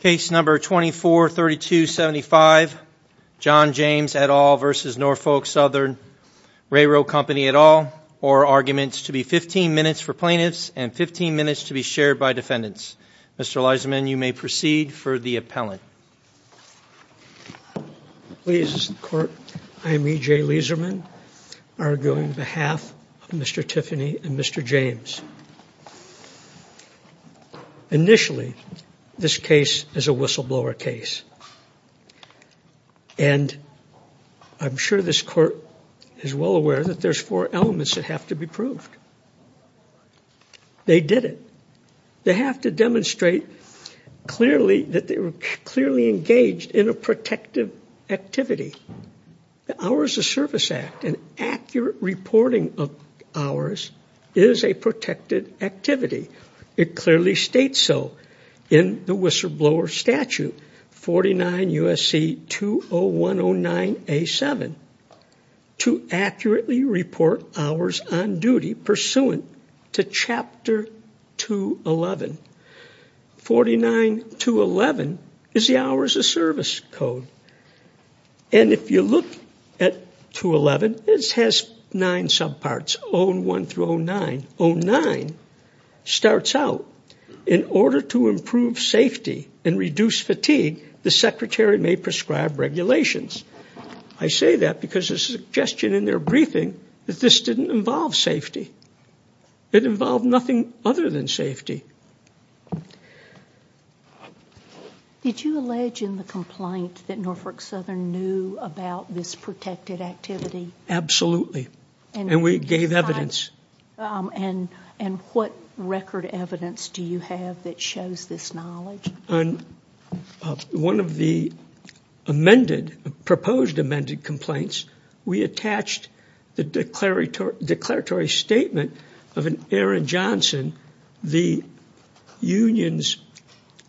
Case number 243275, John James et al. v. Norfolk Southern RR Co. et al., or arguments to be 15 minutes for plaintiffs and 15 minutes to be shared by defendants. Mr. Leiserman, you may proceed for the appellant. Ladies and gentlemen, I am E.J. Leiserman, arguing on behalf of Mr. Tiffany and Mr. James. Initially, this case is a whistleblower case, and I'm sure this court is well aware that there's four elements that have to be proved. They did it. They have to demonstrate clearly that they were clearly engaged in a protective activity. The Hours of Service Act, an accurate reporting of hours, is a protective activity. It clearly states so in the whistleblower statute, 49 U.S.C. 20109A7, to accurately report hours on duty pursuant to Chapter 211. 49211 is the Hours of Service Code, and if you look at 211, it has nine subparts, 01 through 09. 09 starts out, in order to improve safety and reduce fatigue, the Secretary may prescribe regulations. I say that because there's a suggestion in their briefing that this didn't involve safety. It involved nothing other than safety. Did you allege in the complaint that Norfolk Southern knew about this protected activity? Absolutely, and we gave evidence. What record evidence do you have that shows this knowledge? On one of the proposed amended complaints, we attached the declaratory statement of an Aaron Johnson, the union's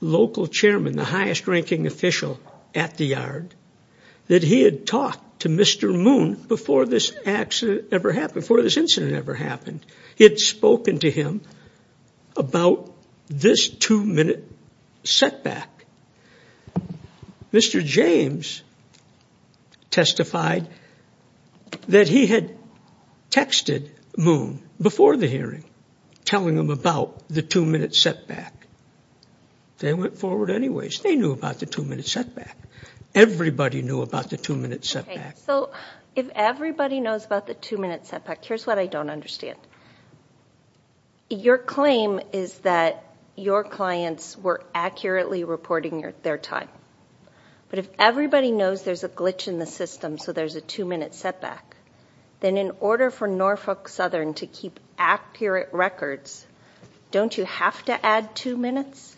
local chairman, the highest ranking official at the yard, that he had talked to Mr. Moon before this incident ever happened. He had spoken to him about this two-minute setback. Mr. James testified that he had texted Moon before the hearing, telling him about the two-minute setback. They went forward anyways. They knew about the two-minute setback. Everybody knew about the two-minute setback. If everybody knows about the two-minute setback, here's what I don't understand. Your claim is that your clients were accurately reporting their time, but if everybody knows there's a glitch in the system, so there's a two-minute setback, then in order for Norfolk Southern to keep accurate records, don't you have to add two minutes?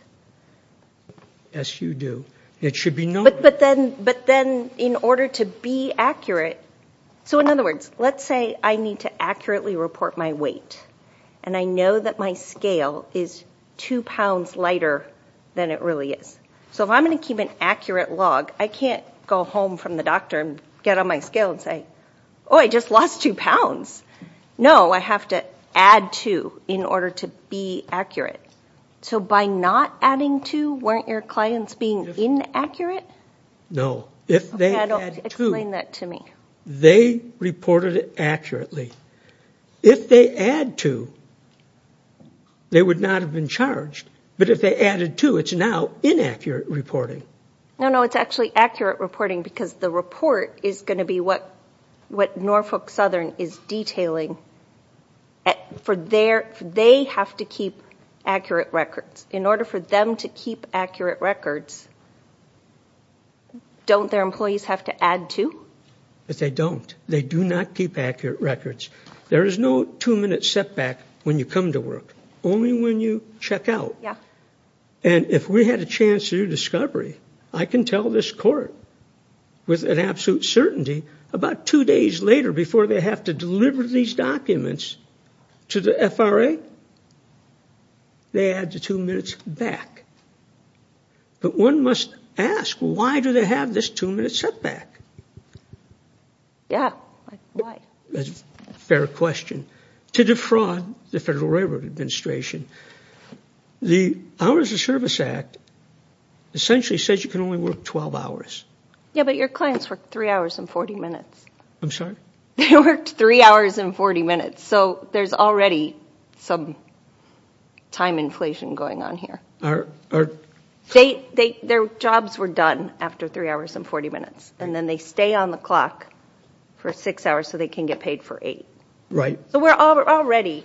Yes, you do. But then in order to be accurate, so in other words, let's say I need to accurately report my weight, and I know that my scale is two pounds lighter than it really is. So if I'm going to keep an accurate log, I can't go home from the doctor and get on my scale and say, oh, I just lost two pounds. No, I have to add two in order to be accurate. So by not adding two, weren't your clients being inaccurate? No, if they added two, they reported it accurately. If they add two, they would not have been charged. But if they added two, it's now inaccurate reporting. No, no, it's actually accurate reporting because the report is going to be what Norfolk Southern is detailing. They have to keep accurate records. In order for them to keep accurate records, don't their employees have to add two? They don't. They do not keep accurate records. There is no two-minute setback when you come to work. Only when you check out. And if we had a chance to do discovery, I can tell this court with absolute certainty, about two days later before they have to deliver these documents to the FRA, they add the two minutes back. But one must ask, why do they have this two-minute setback? Yeah, why? That's a fair question. To defraud the Federal Railroad Administration. The Hours of Service Act essentially says you can only work 12 hours. Yeah, but your clients worked 3 hours and 40 minutes. I'm sorry? They worked 3 hours and 40 minutes, so there's already some time inflation going on here. Their jobs were done after 3 hours and 40 minutes, and then they stay on the clock for 6 hours so they can get paid for 8. Right. So we're already,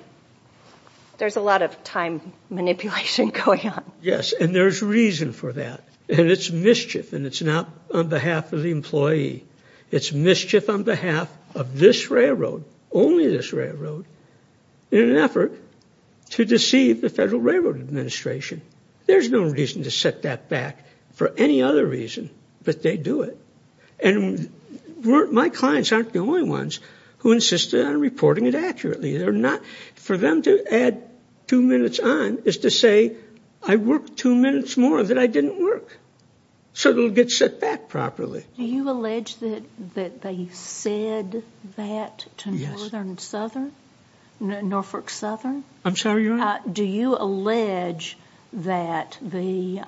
there's a lot of time manipulation going on. Yes, and there's reason for that, and it's mischief, and it's not on behalf of the employee. It's mischief on behalf of this railroad, only this railroad, in an effort to deceive the Federal Railroad Administration. There's no reason to set that back for any other reason, but they do it. My clients aren't the only ones who insisted on reporting it accurately. For them to add 2 minutes on is to say, I worked 2 minutes more that I didn't work, so it'll get set back properly. Do you allege that they said that to Norfolk Southern? I'm sorry? Do you allege that these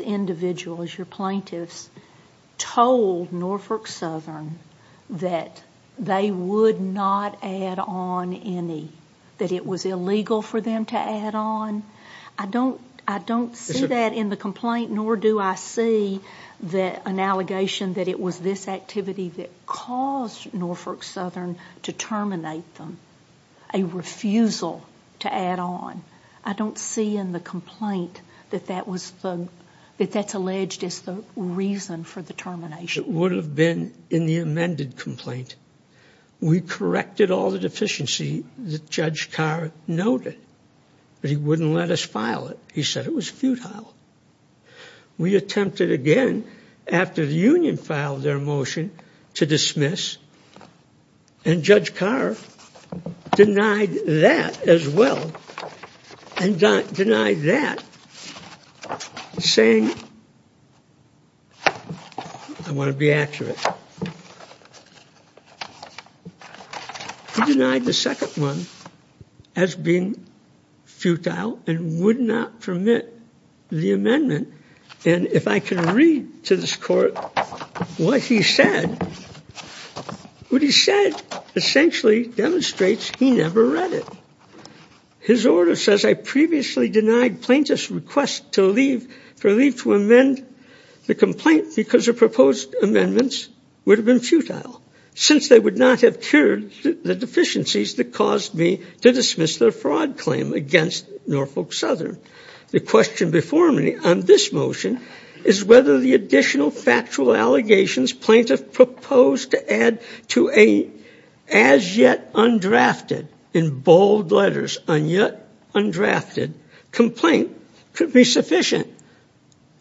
individuals, your plaintiffs, told Norfolk Southern that they would not add on any, that it was illegal for them to add on? I don't see that in the complaint, nor do I see an allegation that it was this activity that caused Norfolk Southern to terminate them, a refusal to add on. I don't see in the complaint that that's alleged as the reason for the termination. It would have been in the amended complaint. We corrected all the deficiency that Judge Carr noted, but he wouldn't let us file it. He said it was futile. We attempted again after the union filed their motion to dismiss, and Judge Carr denied that as well, and denied that, saying, I want to be accurate. He denied the second one as being futile and would not permit the amendment, and if I can read to this court what he said, what he said essentially demonstrates he never read it. His order says, I previously denied plaintiffs request to leave, for leave to amend the complaint because the proposed amendments would have been futile, since they would not have cured the deficiencies that caused me to dismiss their fraud claim against Norfolk Southern. The question before me on this motion is whether the additional factual allegations plaintiff proposed to add to a as yet undrafted, in bold letters, a yet undrafted complaint could be sufficient.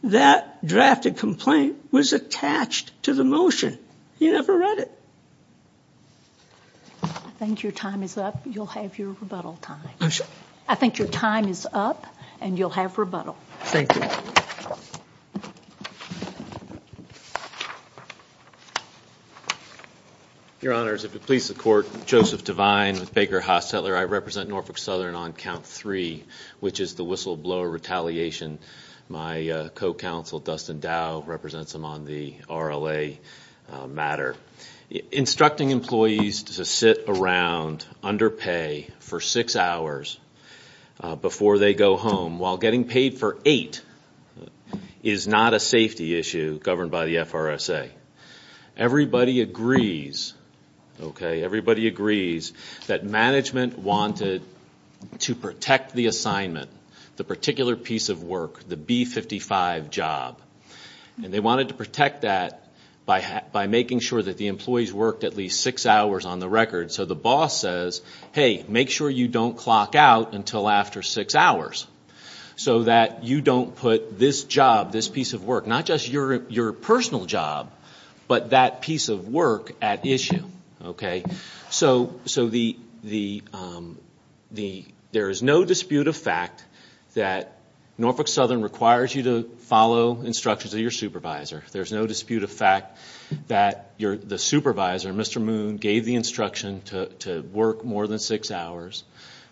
That drafted complaint was attached to the motion. He never read it. I think your time is up. You'll have your rebuttal time. I'm sorry? I Your Honors, if it please the court, Joseph Devine with Baker Haas Settler. I represent Norfolk Southern on count three, which is the whistleblower retaliation. My co-counsel Dustin Dow represents them on the RLA matter. Instructing employees to sit around under pay for six hours before they go home, while getting paid for eight, is not a safety issue governed by the FRSA. Everybody agrees, okay, everybody agrees that management wanted to protect the assignment, the particular piece of work, the B55 job. And they wanted to protect that by making sure that the employees worked at least six hours on the record. So the boss says, hey, make sure you don't clock out until after six hours, so that you don't put this job, this piece of work, not just your personal job, but that piece of work at issue. So there is no dispute of fact that Norfolk Southern requires you to follow instructions of your supervisor. There's no dispute of fact that the supervisor, Mr. Moon, gave the instruction to work more than six hours.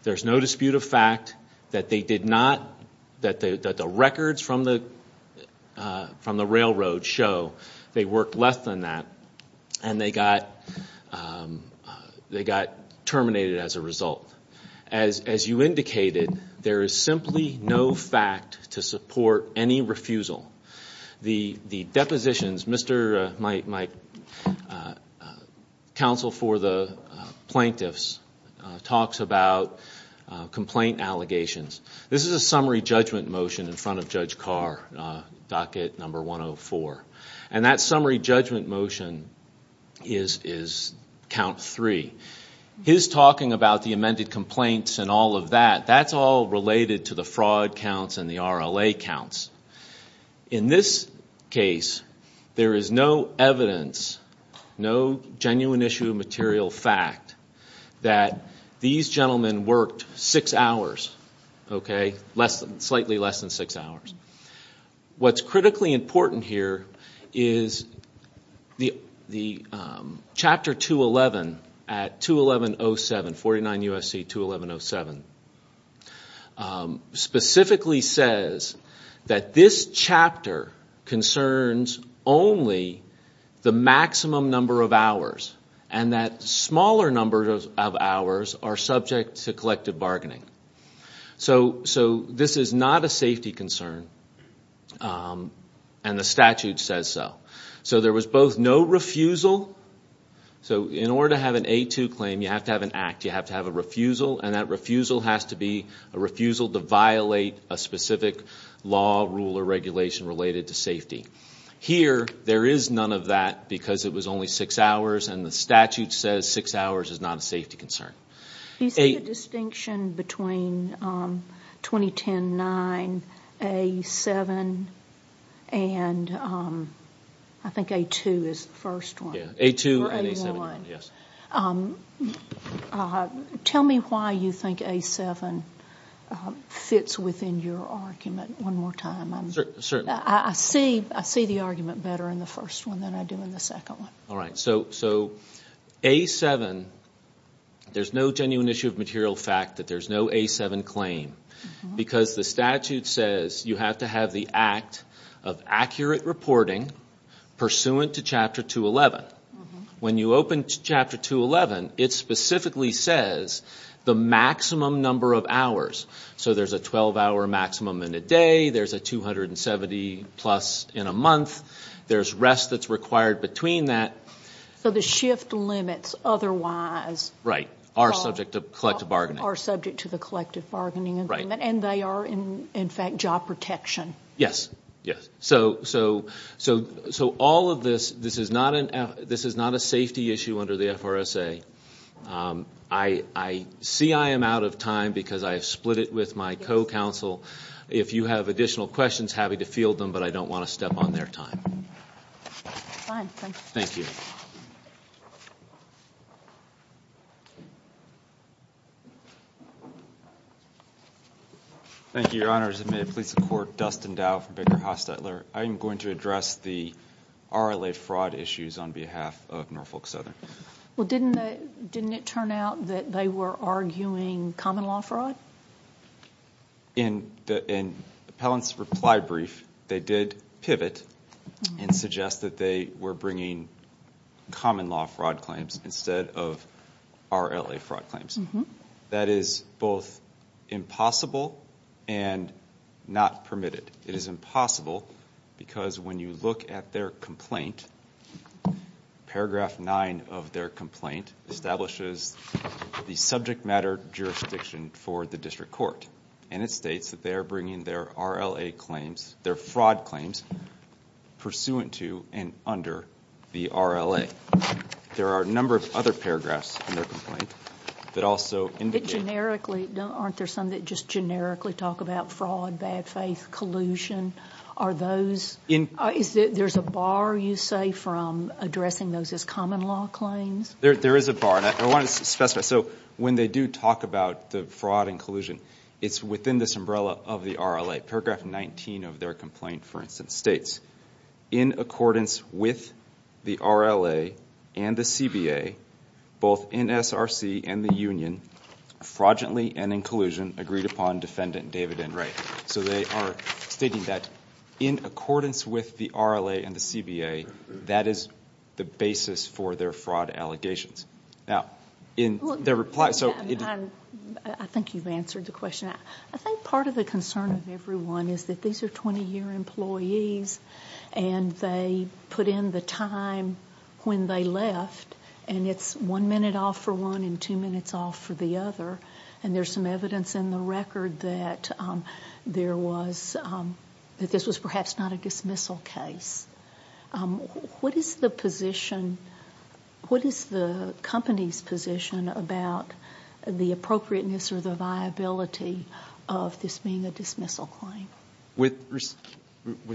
There's no dispute of fact that the records from the railroad show they worked less than that, and they got terminated as a result. As you indicated, there is simply no fact to support any refusal. The depositions, my counsel for the plaintiffs talks about complaint allegations. This is a summary judgment motion in front of Judge Carr, docket number 104. And that summary judgment motion is count three. His talking about the amended complaints and all of that, that's all related to the fraud counts and the RLA counts. In this case, there is no evidence, no genuine issue of material fact that these gentlemen worked six hours, slightly less than six hours. What's critically important here is the chapter 211 at 211.07, 49 U.S.C. 211.07, specifically says that this chapter concerns only the maximum number of hours, and that smaller numbers of hours are subject to collective bargaining. So this is not a safety concern, and the statute says so. So there was both no refusal, so in order to have an A2 claim, you have to have an act, you have to have a refusal, and that refusal has to be a refusal to violate a specific law, rule, or regulation related to safety. Here, there is none of that, because it was only six hours, and the statute says six hours is not a safety concern. Do you see a distinction between 2010-9, A7, and I think A2 is the first one? Yeah, A2 and A7, yes. Tell me why you think A7 fits within your argument one more time. Certainly. I see the argument better in the first one than I do in the second one. All right, so A7, there's no genuine issue of material fact that there's no A7 claim, because the statute says you have to have the act of accurate reporting pursuant to Chapter 211. When you open Chapter 211, it specifically says the maximum number of hours. So there's a 12-hour maximum in a day, there's a 270-plus in a month, there's rest that's required between that. So the shift limits otherwise are subject to the collective bargaining agreement, and they are, in fact, job protection. Yes. So all of this, this is not a safety issue under the FRSA. I see I am out of time, because I have split it with my co-counsel. If you have additional questions, happy to field them, but I don't want to step on their time. Fine, thank you. Thank you, Your Honor. As a matter of police of court, Dustin Dow from Baker Hostetler. I am going to address the RLA fraud issues on behalf of Norfolk Southern. Well, didn't it turn out that they were arguing common law fraud? In Appellant's reply brief, they did pivot and suggest that they were bringing common law fraud claims instead of RLA fraud claims. That is both impossible and not permitted. It is impossible because when you look at their complaint, paragraph nine of their complaint establishes the subject matter jurisdiction for the district court. And it states that they are bringing their RLA claims, their fraud claims, pursuant to and under the RLA. There are a number of other paragraphs in their complaint that also indicate... Aren't there some that just generically talk about fraud, bad faith, collusion? Are those... Is there a bar, you say, from addressing those as common law claims? There is a bar, and I want to specify. So, when they do talk about the fraud and collusion, it's within this umbrella of the RLA. Paragraph 19 of their complaint, for instance, states, in accordance with the RLA and the CBA, both in SRC and the union, fraudulently and in collusion, agreed upon Defendant David N. Wright. So, they are stating that in accordance with the RLA and the CBA, that is the basis for their fraud allegations. Now, in their reply... I think you've answered the question. I think part of the concern of everyone is that these are 20-year employees, and they put in the time when they left, and it's one minute off for one and two minutes off for the other. And there's some evidence in the record that this was perhaps not a dismissal case. What is the position... What is the company's position about the appropriateness or the viability of this being a dismissal claim? With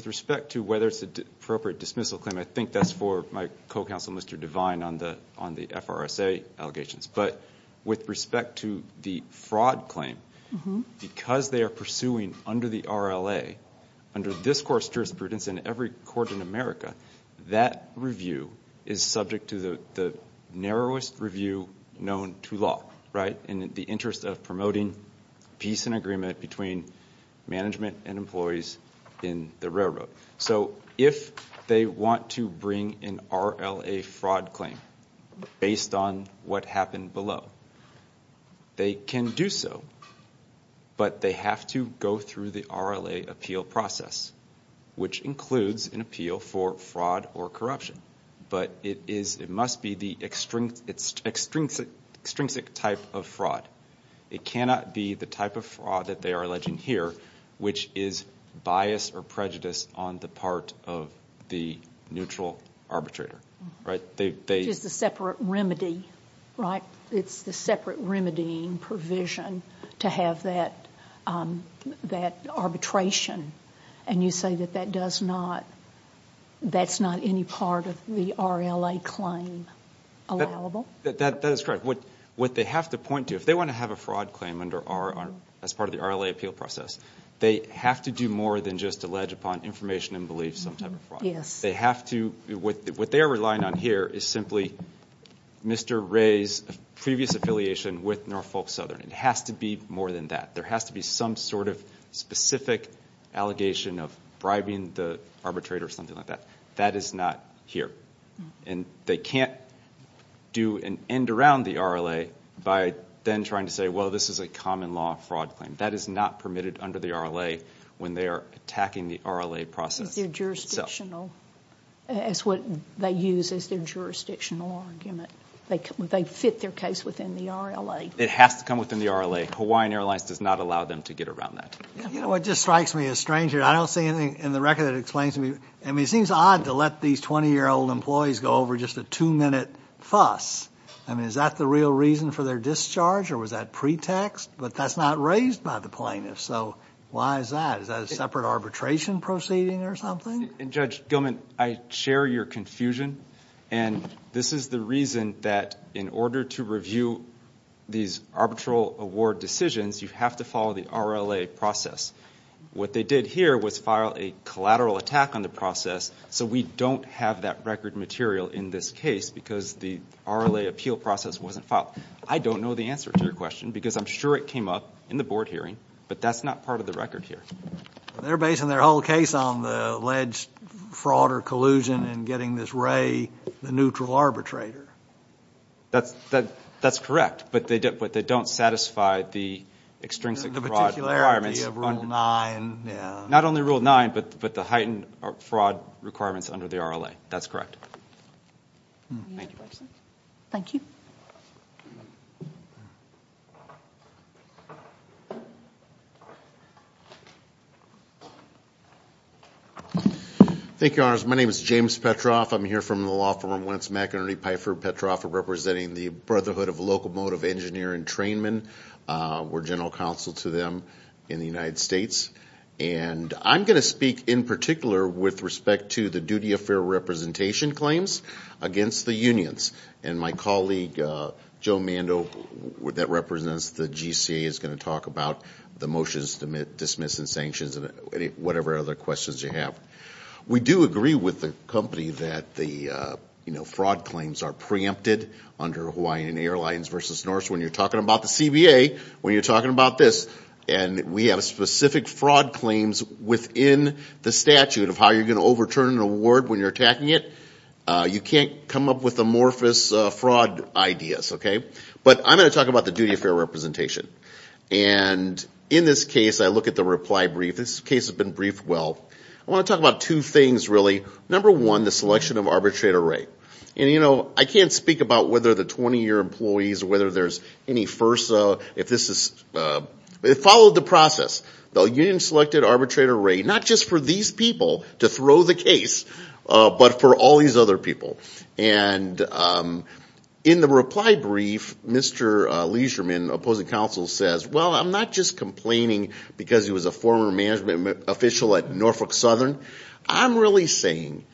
respect to whether it's an appropriate dismissal claim, I think that's for my co-counsel, Mr. Devine, on the FRSA allegations. But with respect to the fraud claim, because they are pursuing under the RLA, under this court's jurisprudence and every court in America, that review is subject to the narrowest review known to law, in the interest of promoting peace and agreement between management and employees in the railroad. So, if they want to bring an RLA fraud claim based on what happened below, they can do so, but they have to go through the RLA appeal process, which includes an appeal for fraud or corruption. But it must be the extrinsic type of fraud. It cannot be the type of fraud that they are alleging here, which is bias or prejudice on the part of the neutral arbitrator. Which is the separate remedy, right? It's the separate remedying provision to have that arbitration. And you say that that's not any part of the RLA claim allowable? That is correct. What they have to point to, if they want to have a fraud claim as part of the RLA appeal process, they have to do more than just allege upon information and belief some type of fraud. What they are relying on here is simply Mr. Ray's previous affiliation with Norfolk Southern. It has to be more than that. There has to be some sort of specific allegation of bribing the arbitrator or something like that. That is not here. And they can't do an end around the RLA by then trying to say, well, this is a common law fraud claim. That is not permitted under the RLA when they are attacking the RLA process itself. That's what they use as their jurisdictional argument. They fit their case within the RLA. It has to come within the RLA. Hawaiian Airlines does not allow them to get around that. You know what just strikes me as strange here? I don't see anything in the record that explains to me. I mean, it seems odd to let these 20-year-old employees go over just a two-minute fuss. I mean, is that the real reason for their discharge or was that pretext? But that's not raised by the plaintiff, so why is that? Is that a separate arbitration proceeding or something? Judge Gilman, I share your confusion. And this is the reason that in order to review these arbitral award decisions, you have to follow the RLA process. What they did here was file a collateral attack on the process, so we don't have that record material in this case because the RLA appeal process wasn't filed. I don't know the answer to your question because I'm sure it came up in the board hearing, but that's not part of the record here. They're basing their whole case on the alleged fraud or collusion and getting this Wray the neutral arbitrator. That's correct, but they don't satisfy the extrinsic fraud requirements. The particularity of Rule 9. Not only Rule 9, but the heightened fraud requirements under the RLA. That's correct. Thank you. Thank you, Your Honors. My name is James Petroff. I'm here from the law firm Wentz McInerney Pfeiffer. Petroff representing the Brotherhood of Locomotive Engineer and Trainmen. We're general counsel to them in the United States. And I'm going to speak in particular with respect to the duty of fair representation claims against the unions. And my colleague, Joe Mando, that represents the GCA, is going to talk about the motions to dismiss and sanctions and whatever other questions you have. We do agree with the company that the fraud claims are preempted under Hawaiian Airlines v. Norse when you're talking about the CBA, when you're talking about this. And we have specific fraud claims within the statute of how you're going to overturn an award when you're attacking it. You can't come up with amorphous fraud ideas. But I'm going to talk about the duty of fair representation. And in this case, I look at the reply brief. This case has been briefed well. I want to talk about two things, really. Number one, the selection of arbitrate array. And I can't speak about whether the 20-year employees, whether there's any FERSA. It followed the process. The union selected arbitrate array, not just for these people to throw the case, but for all these other people. And in the reply brief, Mr. Leisherman, opposing counsel, says, well, I'm not just complaining because he was a former management official at Norfolk Southern. I'm really saying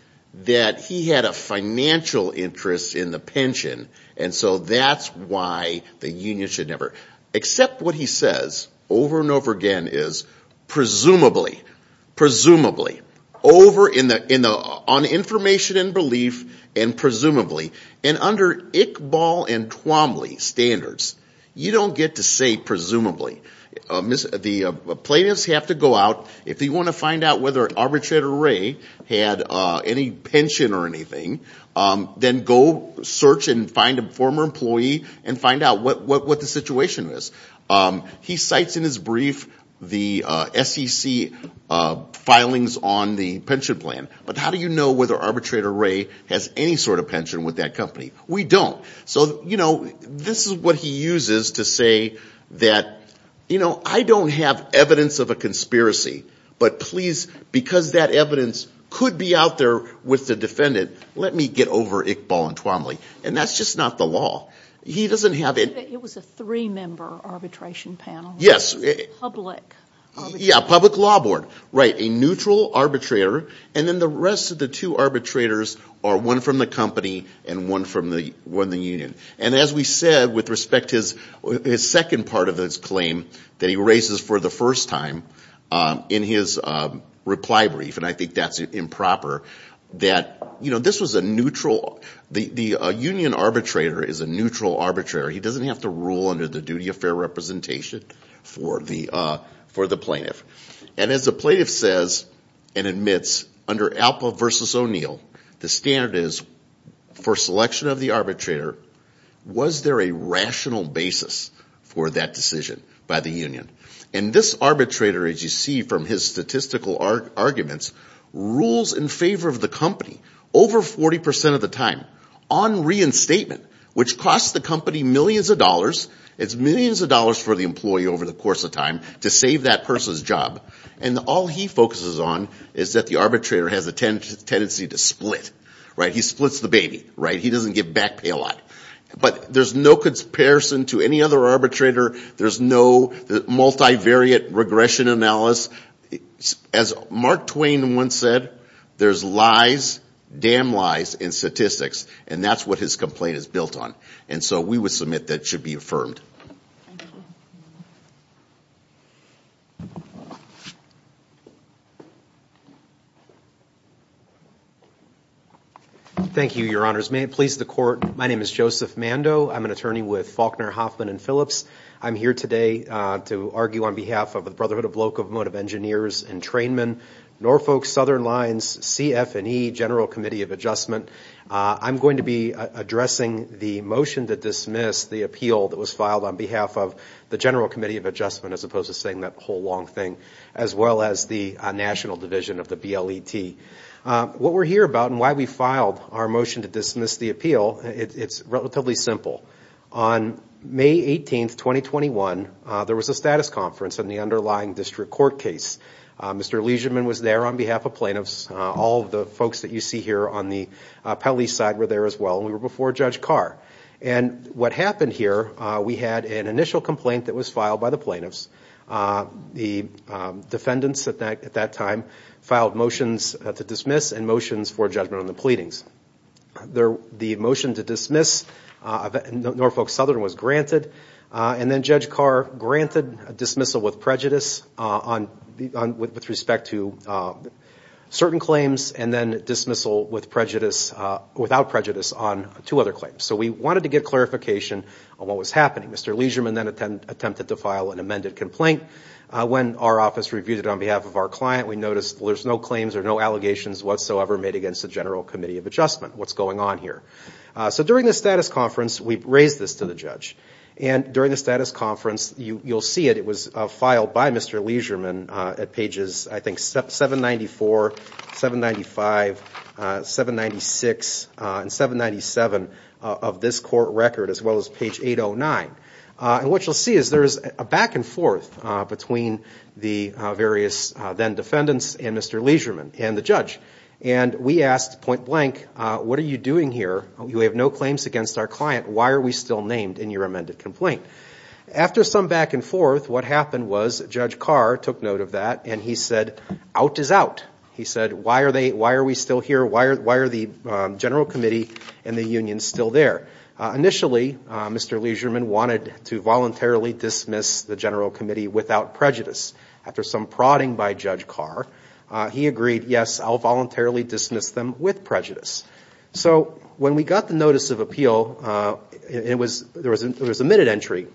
that he had a financial interest in the pension. And so that's why the union should never. Except what he says over and over again is, presumably, presumably, over on information and belief, and presumably. And under Iqbal and Twombly standards, you don't get to say presumably. The plaintiffs have to go out. If they want to find out whether arbitrate array had any pension or anything, then go search and find a former employee and find out what the situation is. He cites in his brief the SEC filings on the pension plan. But how do you know whether arbitrate array has any sort of pension with that company? We don't. So, you know, this is what he uses to say that, you know, I don't have evidence of a conspiracy. But please, because that evidence could be out there with the defendant, let me get over Iqbal and Twombly. And that's just not the law. He doesn't have it. It was a three-member arbitration panel. Yes. Public. Yeah, public law board. Right, a neutral arbitrator. And then the rest of the two arbitrators are one from the company and one from the union. And as we said, with respect to his second part of his claim that he raises for the first time in his reply brief, and I think that's improper, that, you know, this was a neutral, the union arbitrator is a neutral arbitrator. He doesn't have to rule under the duty of fair representation for the plaintiff. And as the plaintiff says and admits, under Alpo versus O'Neill, the standard is for selection of the arbitrator, was there a rational basis for that decision by the union? And this arbitrator, as you see from his statistical arguments, rules in favor of the company over 40% of the time on reinstatement, which costs the company millions of dollars. It's millions of dollars for the employee over the course of time to save that person's job. And all he focuses on is that the arbitrator has a tendency to split. Right? He splits the baby. Right? He doesn't give back pay a lot. But there's no comparison to any other arbitrator. There's no multivariate regression analysis. As Mark Twain once said, there's lies, damn lies, in statistics. And that's what his complaint is built on. And so we would submit that it should be affirmed. Thank you, your honors. May it please the court. My name is Joseph Mando. I'm an attorney with Faulkner, Hoffman & Phillips. I'm here today to argue on behalf of the Brotherhood of Locomotive Engineers and Trainmen, Norfolk Southern Lines, CF&E, General Committee of Adjustment. I'm going to be addressing the motion to dismiss the appeal that was filed on behalf of the General Committee of Adjustment, as opposed to saying that whole long thing, as well as the National Division of the BLET. What we're here about and why we filed our motion to dismiss the appeal, it's relatively simple. On May 18, 2021, there was a status conference on the underlying district court case. Mr. Legionman was there on behalf of plaintiffs. All of the folks that you see here on the appellee side were there as well. And we were before Judge Carr. And what happened here, we had an initial complaint that was filed by the plaintiffs. The defendants at that time filed motions to dismiss and motions for judgment on the pleadings. The motion to dismiss Norfolk Southern was granted. And then Judge Carr granted a dismissal with prejudice with respect to certain claims and then dismissal without prejudice on two other claims. So we wanted to get clarification on what was happening. Mr. Legionman then attempted to file an amended complaint. When our office reviewed it on behalf of our client, we noticed there's no claims or no allegations whatsoever made against the General Committee of Adjustment. What's going on here? So during the status conference, we raised this to the judge. And during the status conference, you'll see it. It was filed by Mr. Legionman at pages, I think, 794, 795, 796, and 797 of this court record as well as page 809. And what you'll see is there's a back and forth between the various then defendants and Mr. Legionman and the judge. And we asked point blank, what are you doing here? You have no claims against our client. Why are we still named in your amended complaint? After some back and forth, what happened was Judge Carr took note of that and he said, out is out. He said, why are we still here? Why are the General Committee and the union still there? Initially, Mr. Legionman wanted to voluntarily dismiss the General Committee without prejudice. After some prodding by Judge Carr, he agreed, yes, I'll voluntarily dismiss them with prejudice. So when we got the notice of appeal, there was a minute entry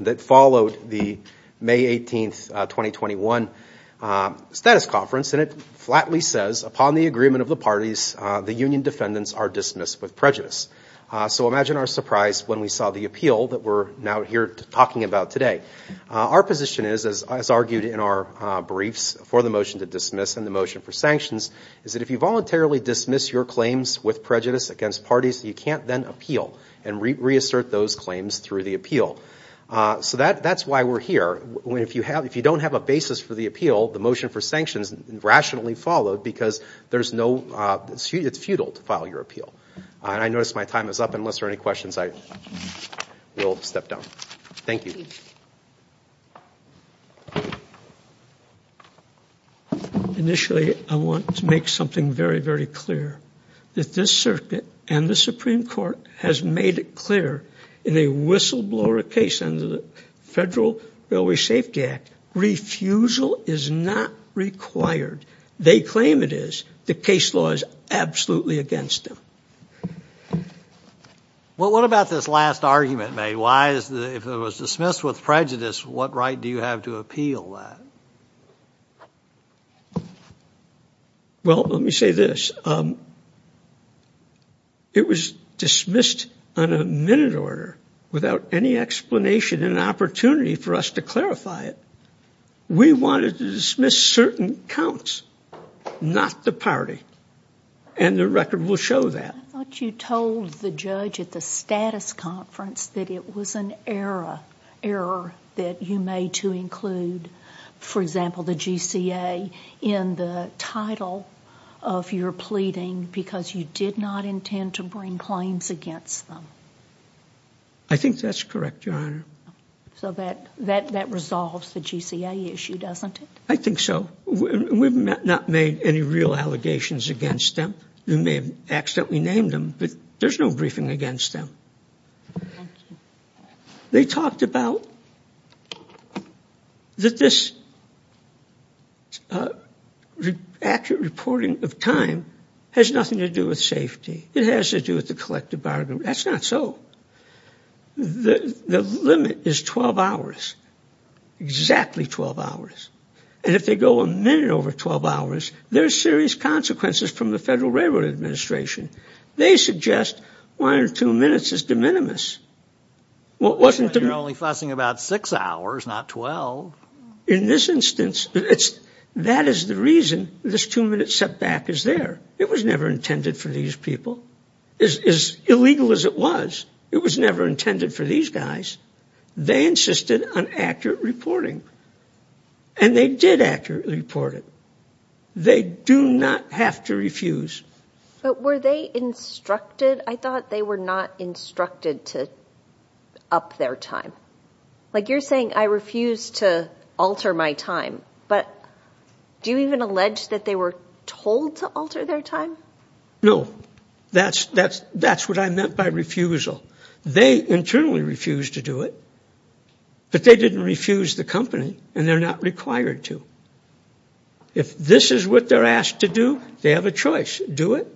that followed the May 18th, 2021 status conference. And it flatly says, upon the agreement of the parties, the union defendants are dismissed with prejudice. So imagine our surprise when we saw the appeal that we're now here talking about today. Our position is, as argued in our briefs for the motion to dismiss and the motion for sanctions, is that if you voluntarily dismiss your claims with prejudice against parties, you can't then appeal and reassert those claims through the appeal. So that's why we're here. If you don't have a basis for the appeal, the motion for sanctions rationally followed because it's futile to file your appeal. I notice my time is up. Unless there are any questions, I will step down. Thank you. Thank you. Initially, I want to make something very, very clear. If this circuit and the Supreme Court has made it clear in a whistleblower case under the Federal Railway Safety Act, refusal is not required. They claim it is. The case law is absolutely against them. Well, what about this last argument, May? If it was dismissed with prejudice, what right do you have to appeal that? Well, let me say this. It was dismissed on a minute order without any explanation and opportunity for us to clarify it. We wanted to dismiss certain counts, not the party, and the record will show that. I thought you told the judge at the status conference that it was an error that you made to include, for example, the GCA in the title of your pleading because you did not intend to bring claims against them. I think that's correct, Your Honor. So that resolves the GCA issue, doesn't it? I think so. We've not made any real allegations against them. You may have accidentally named them, but there's no briefing against them. They talked about that this accurate reporting of time has nothing to do with safety. It has to do with the collective bargaining. That's not so. The limit is 12 hours, exactly 12 hours. And if they go a minute over 12 hours, there's serious consequences from the Federal Railroad Administration. They suggest one or two minutes is de minimis. You're only fussing about six hours, not 12. In this instance, that is the reason this two-minute setback is there. It was never intended for these people. As illegal as it was, it was never intended for these guys. They insisted on accurate reporting, and they did accurately report it. They do not have to refuse. But were they instructed? I thought they were not instructed to up their time. Like you're saying, I refuse to alter my time, but do you even allege that they were told to alter their time? No. That's what I meant by refusal. They internally refused to do it, but they didn't refuse the company, and they're not required to. If this is what they're asked to do, they have a choice. Do it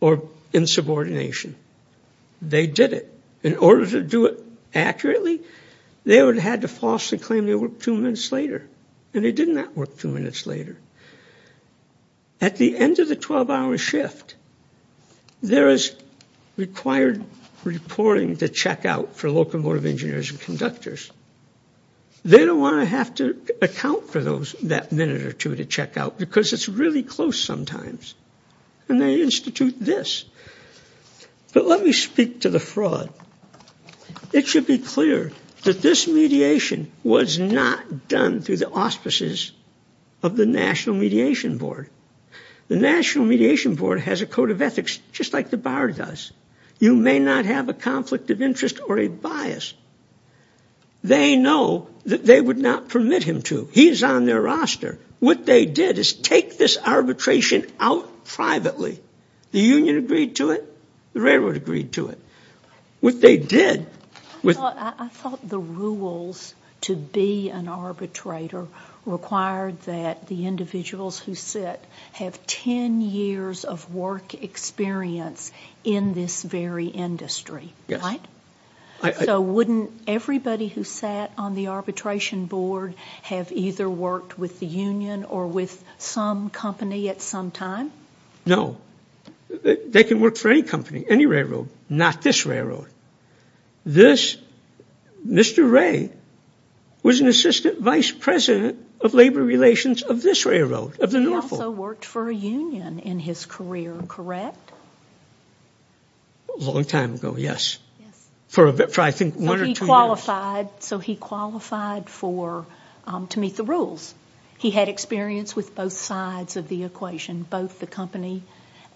or in subordination. They did it. In order to do it accurately, they would have had to falsely claim they worked two minutes later, and they did not work two minutes later. At the end of the 12-hour shift, there is required reporting to check out for locomotive engineers and conductors. They don't want to have to account for that minute or two to check out because it's really close sometimes, and they institute this. But let me speak to the fraud. It should be clear that this mediation was not done through the auspices of the National Mediation Board. The National Mediation Board has a code of ethics just like the bar does. You may not have a conflict of interest or a bias. They know that they would not permit him to. He's on their roster. What they did is take this arbitration out privately. The union agreed to it. The railroad agreed to it. I thought the rules to be an arbitrator required that the individuals who sit have ten years of work experience in this very industry, right? So wouldn't everybody who sat on the arbitration board have either worked with the union or with some company at some time? No. They can work for any company, any railroad, not this railroad. This Mr. Ray was an assistant vice president of labor relations of this railroad, of the Norfolk. He also worked for a union in his career, correct? A long time ago, yes. For I think one or two years. So he qualified to meet the rules. He had experience with both sides of the equation, both the company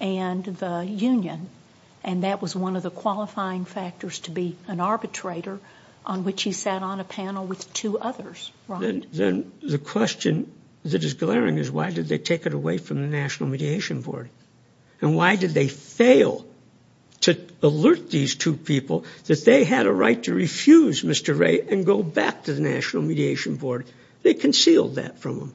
and the union. And that was one of the qualifying factors to be an arbitrator on which he sat on a panel with two others. Then the question that is glaring is why did they take it away from the National Mediation Board? And why did they fail to alert these two people that they had a right to refuse Mr. Ray and go back to the National Mediation Board? They concealed that from them.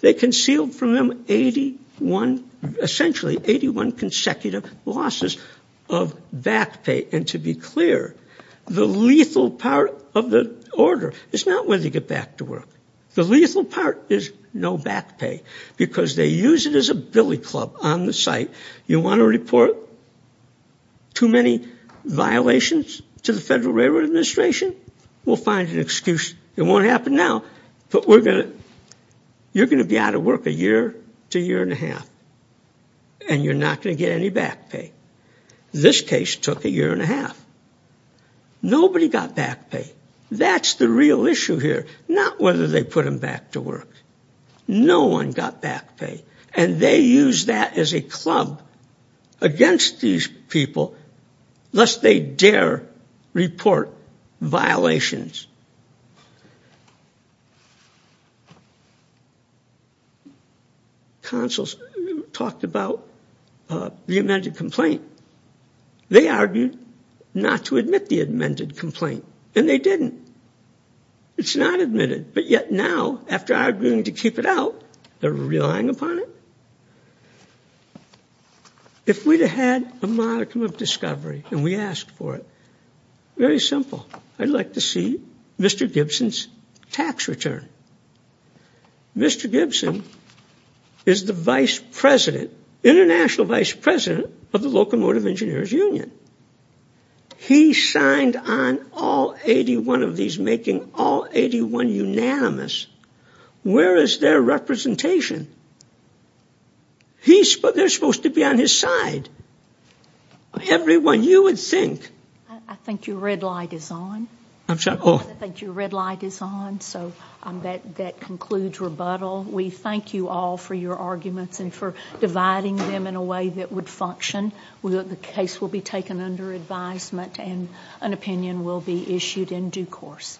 They concealed from them 81, essentially 81 consecutive losses of back pay. And to be clear, the lethal part of the order is not whether you get back to work. The lethal part is no back pay because they use it as a billy club on the site. You want to report too many violations to the Federal Railroad Administration, we'll find an excuse. It won't happen now, but you're going to be out of work a year to a year and a half and you're not going to get any back pay. This case took a year and a half. Nobody got back pay. That's the real issue here, not whether they put them back to work. No one got back pay. And they use that as a club against these people lest they dare report violations. Consuls talked about the amended complaint. They argued not to admit the amended complaint, and they didn't. It's not admitted, but yet now, after arguing to keep it out, they're relying upon it. If we'd had a modicum of discovery and we asked for it, very simple, I'd like to see Mr. Gibson's tax return. Mr. Gibson is the vice president, international vice president, of the Locomotive Engineers Union. He signed on all 81 of these, making all 81 unanimous. Where is their representation? They're supposed to be on his side. Everyone, you would think. I think your red light is on. I think your red light is on, so that concludes rebuttal. We thank you all for your arguments and for dividing them in a way that would function. The case will be taken under advisement and an opinion will be issued in due course.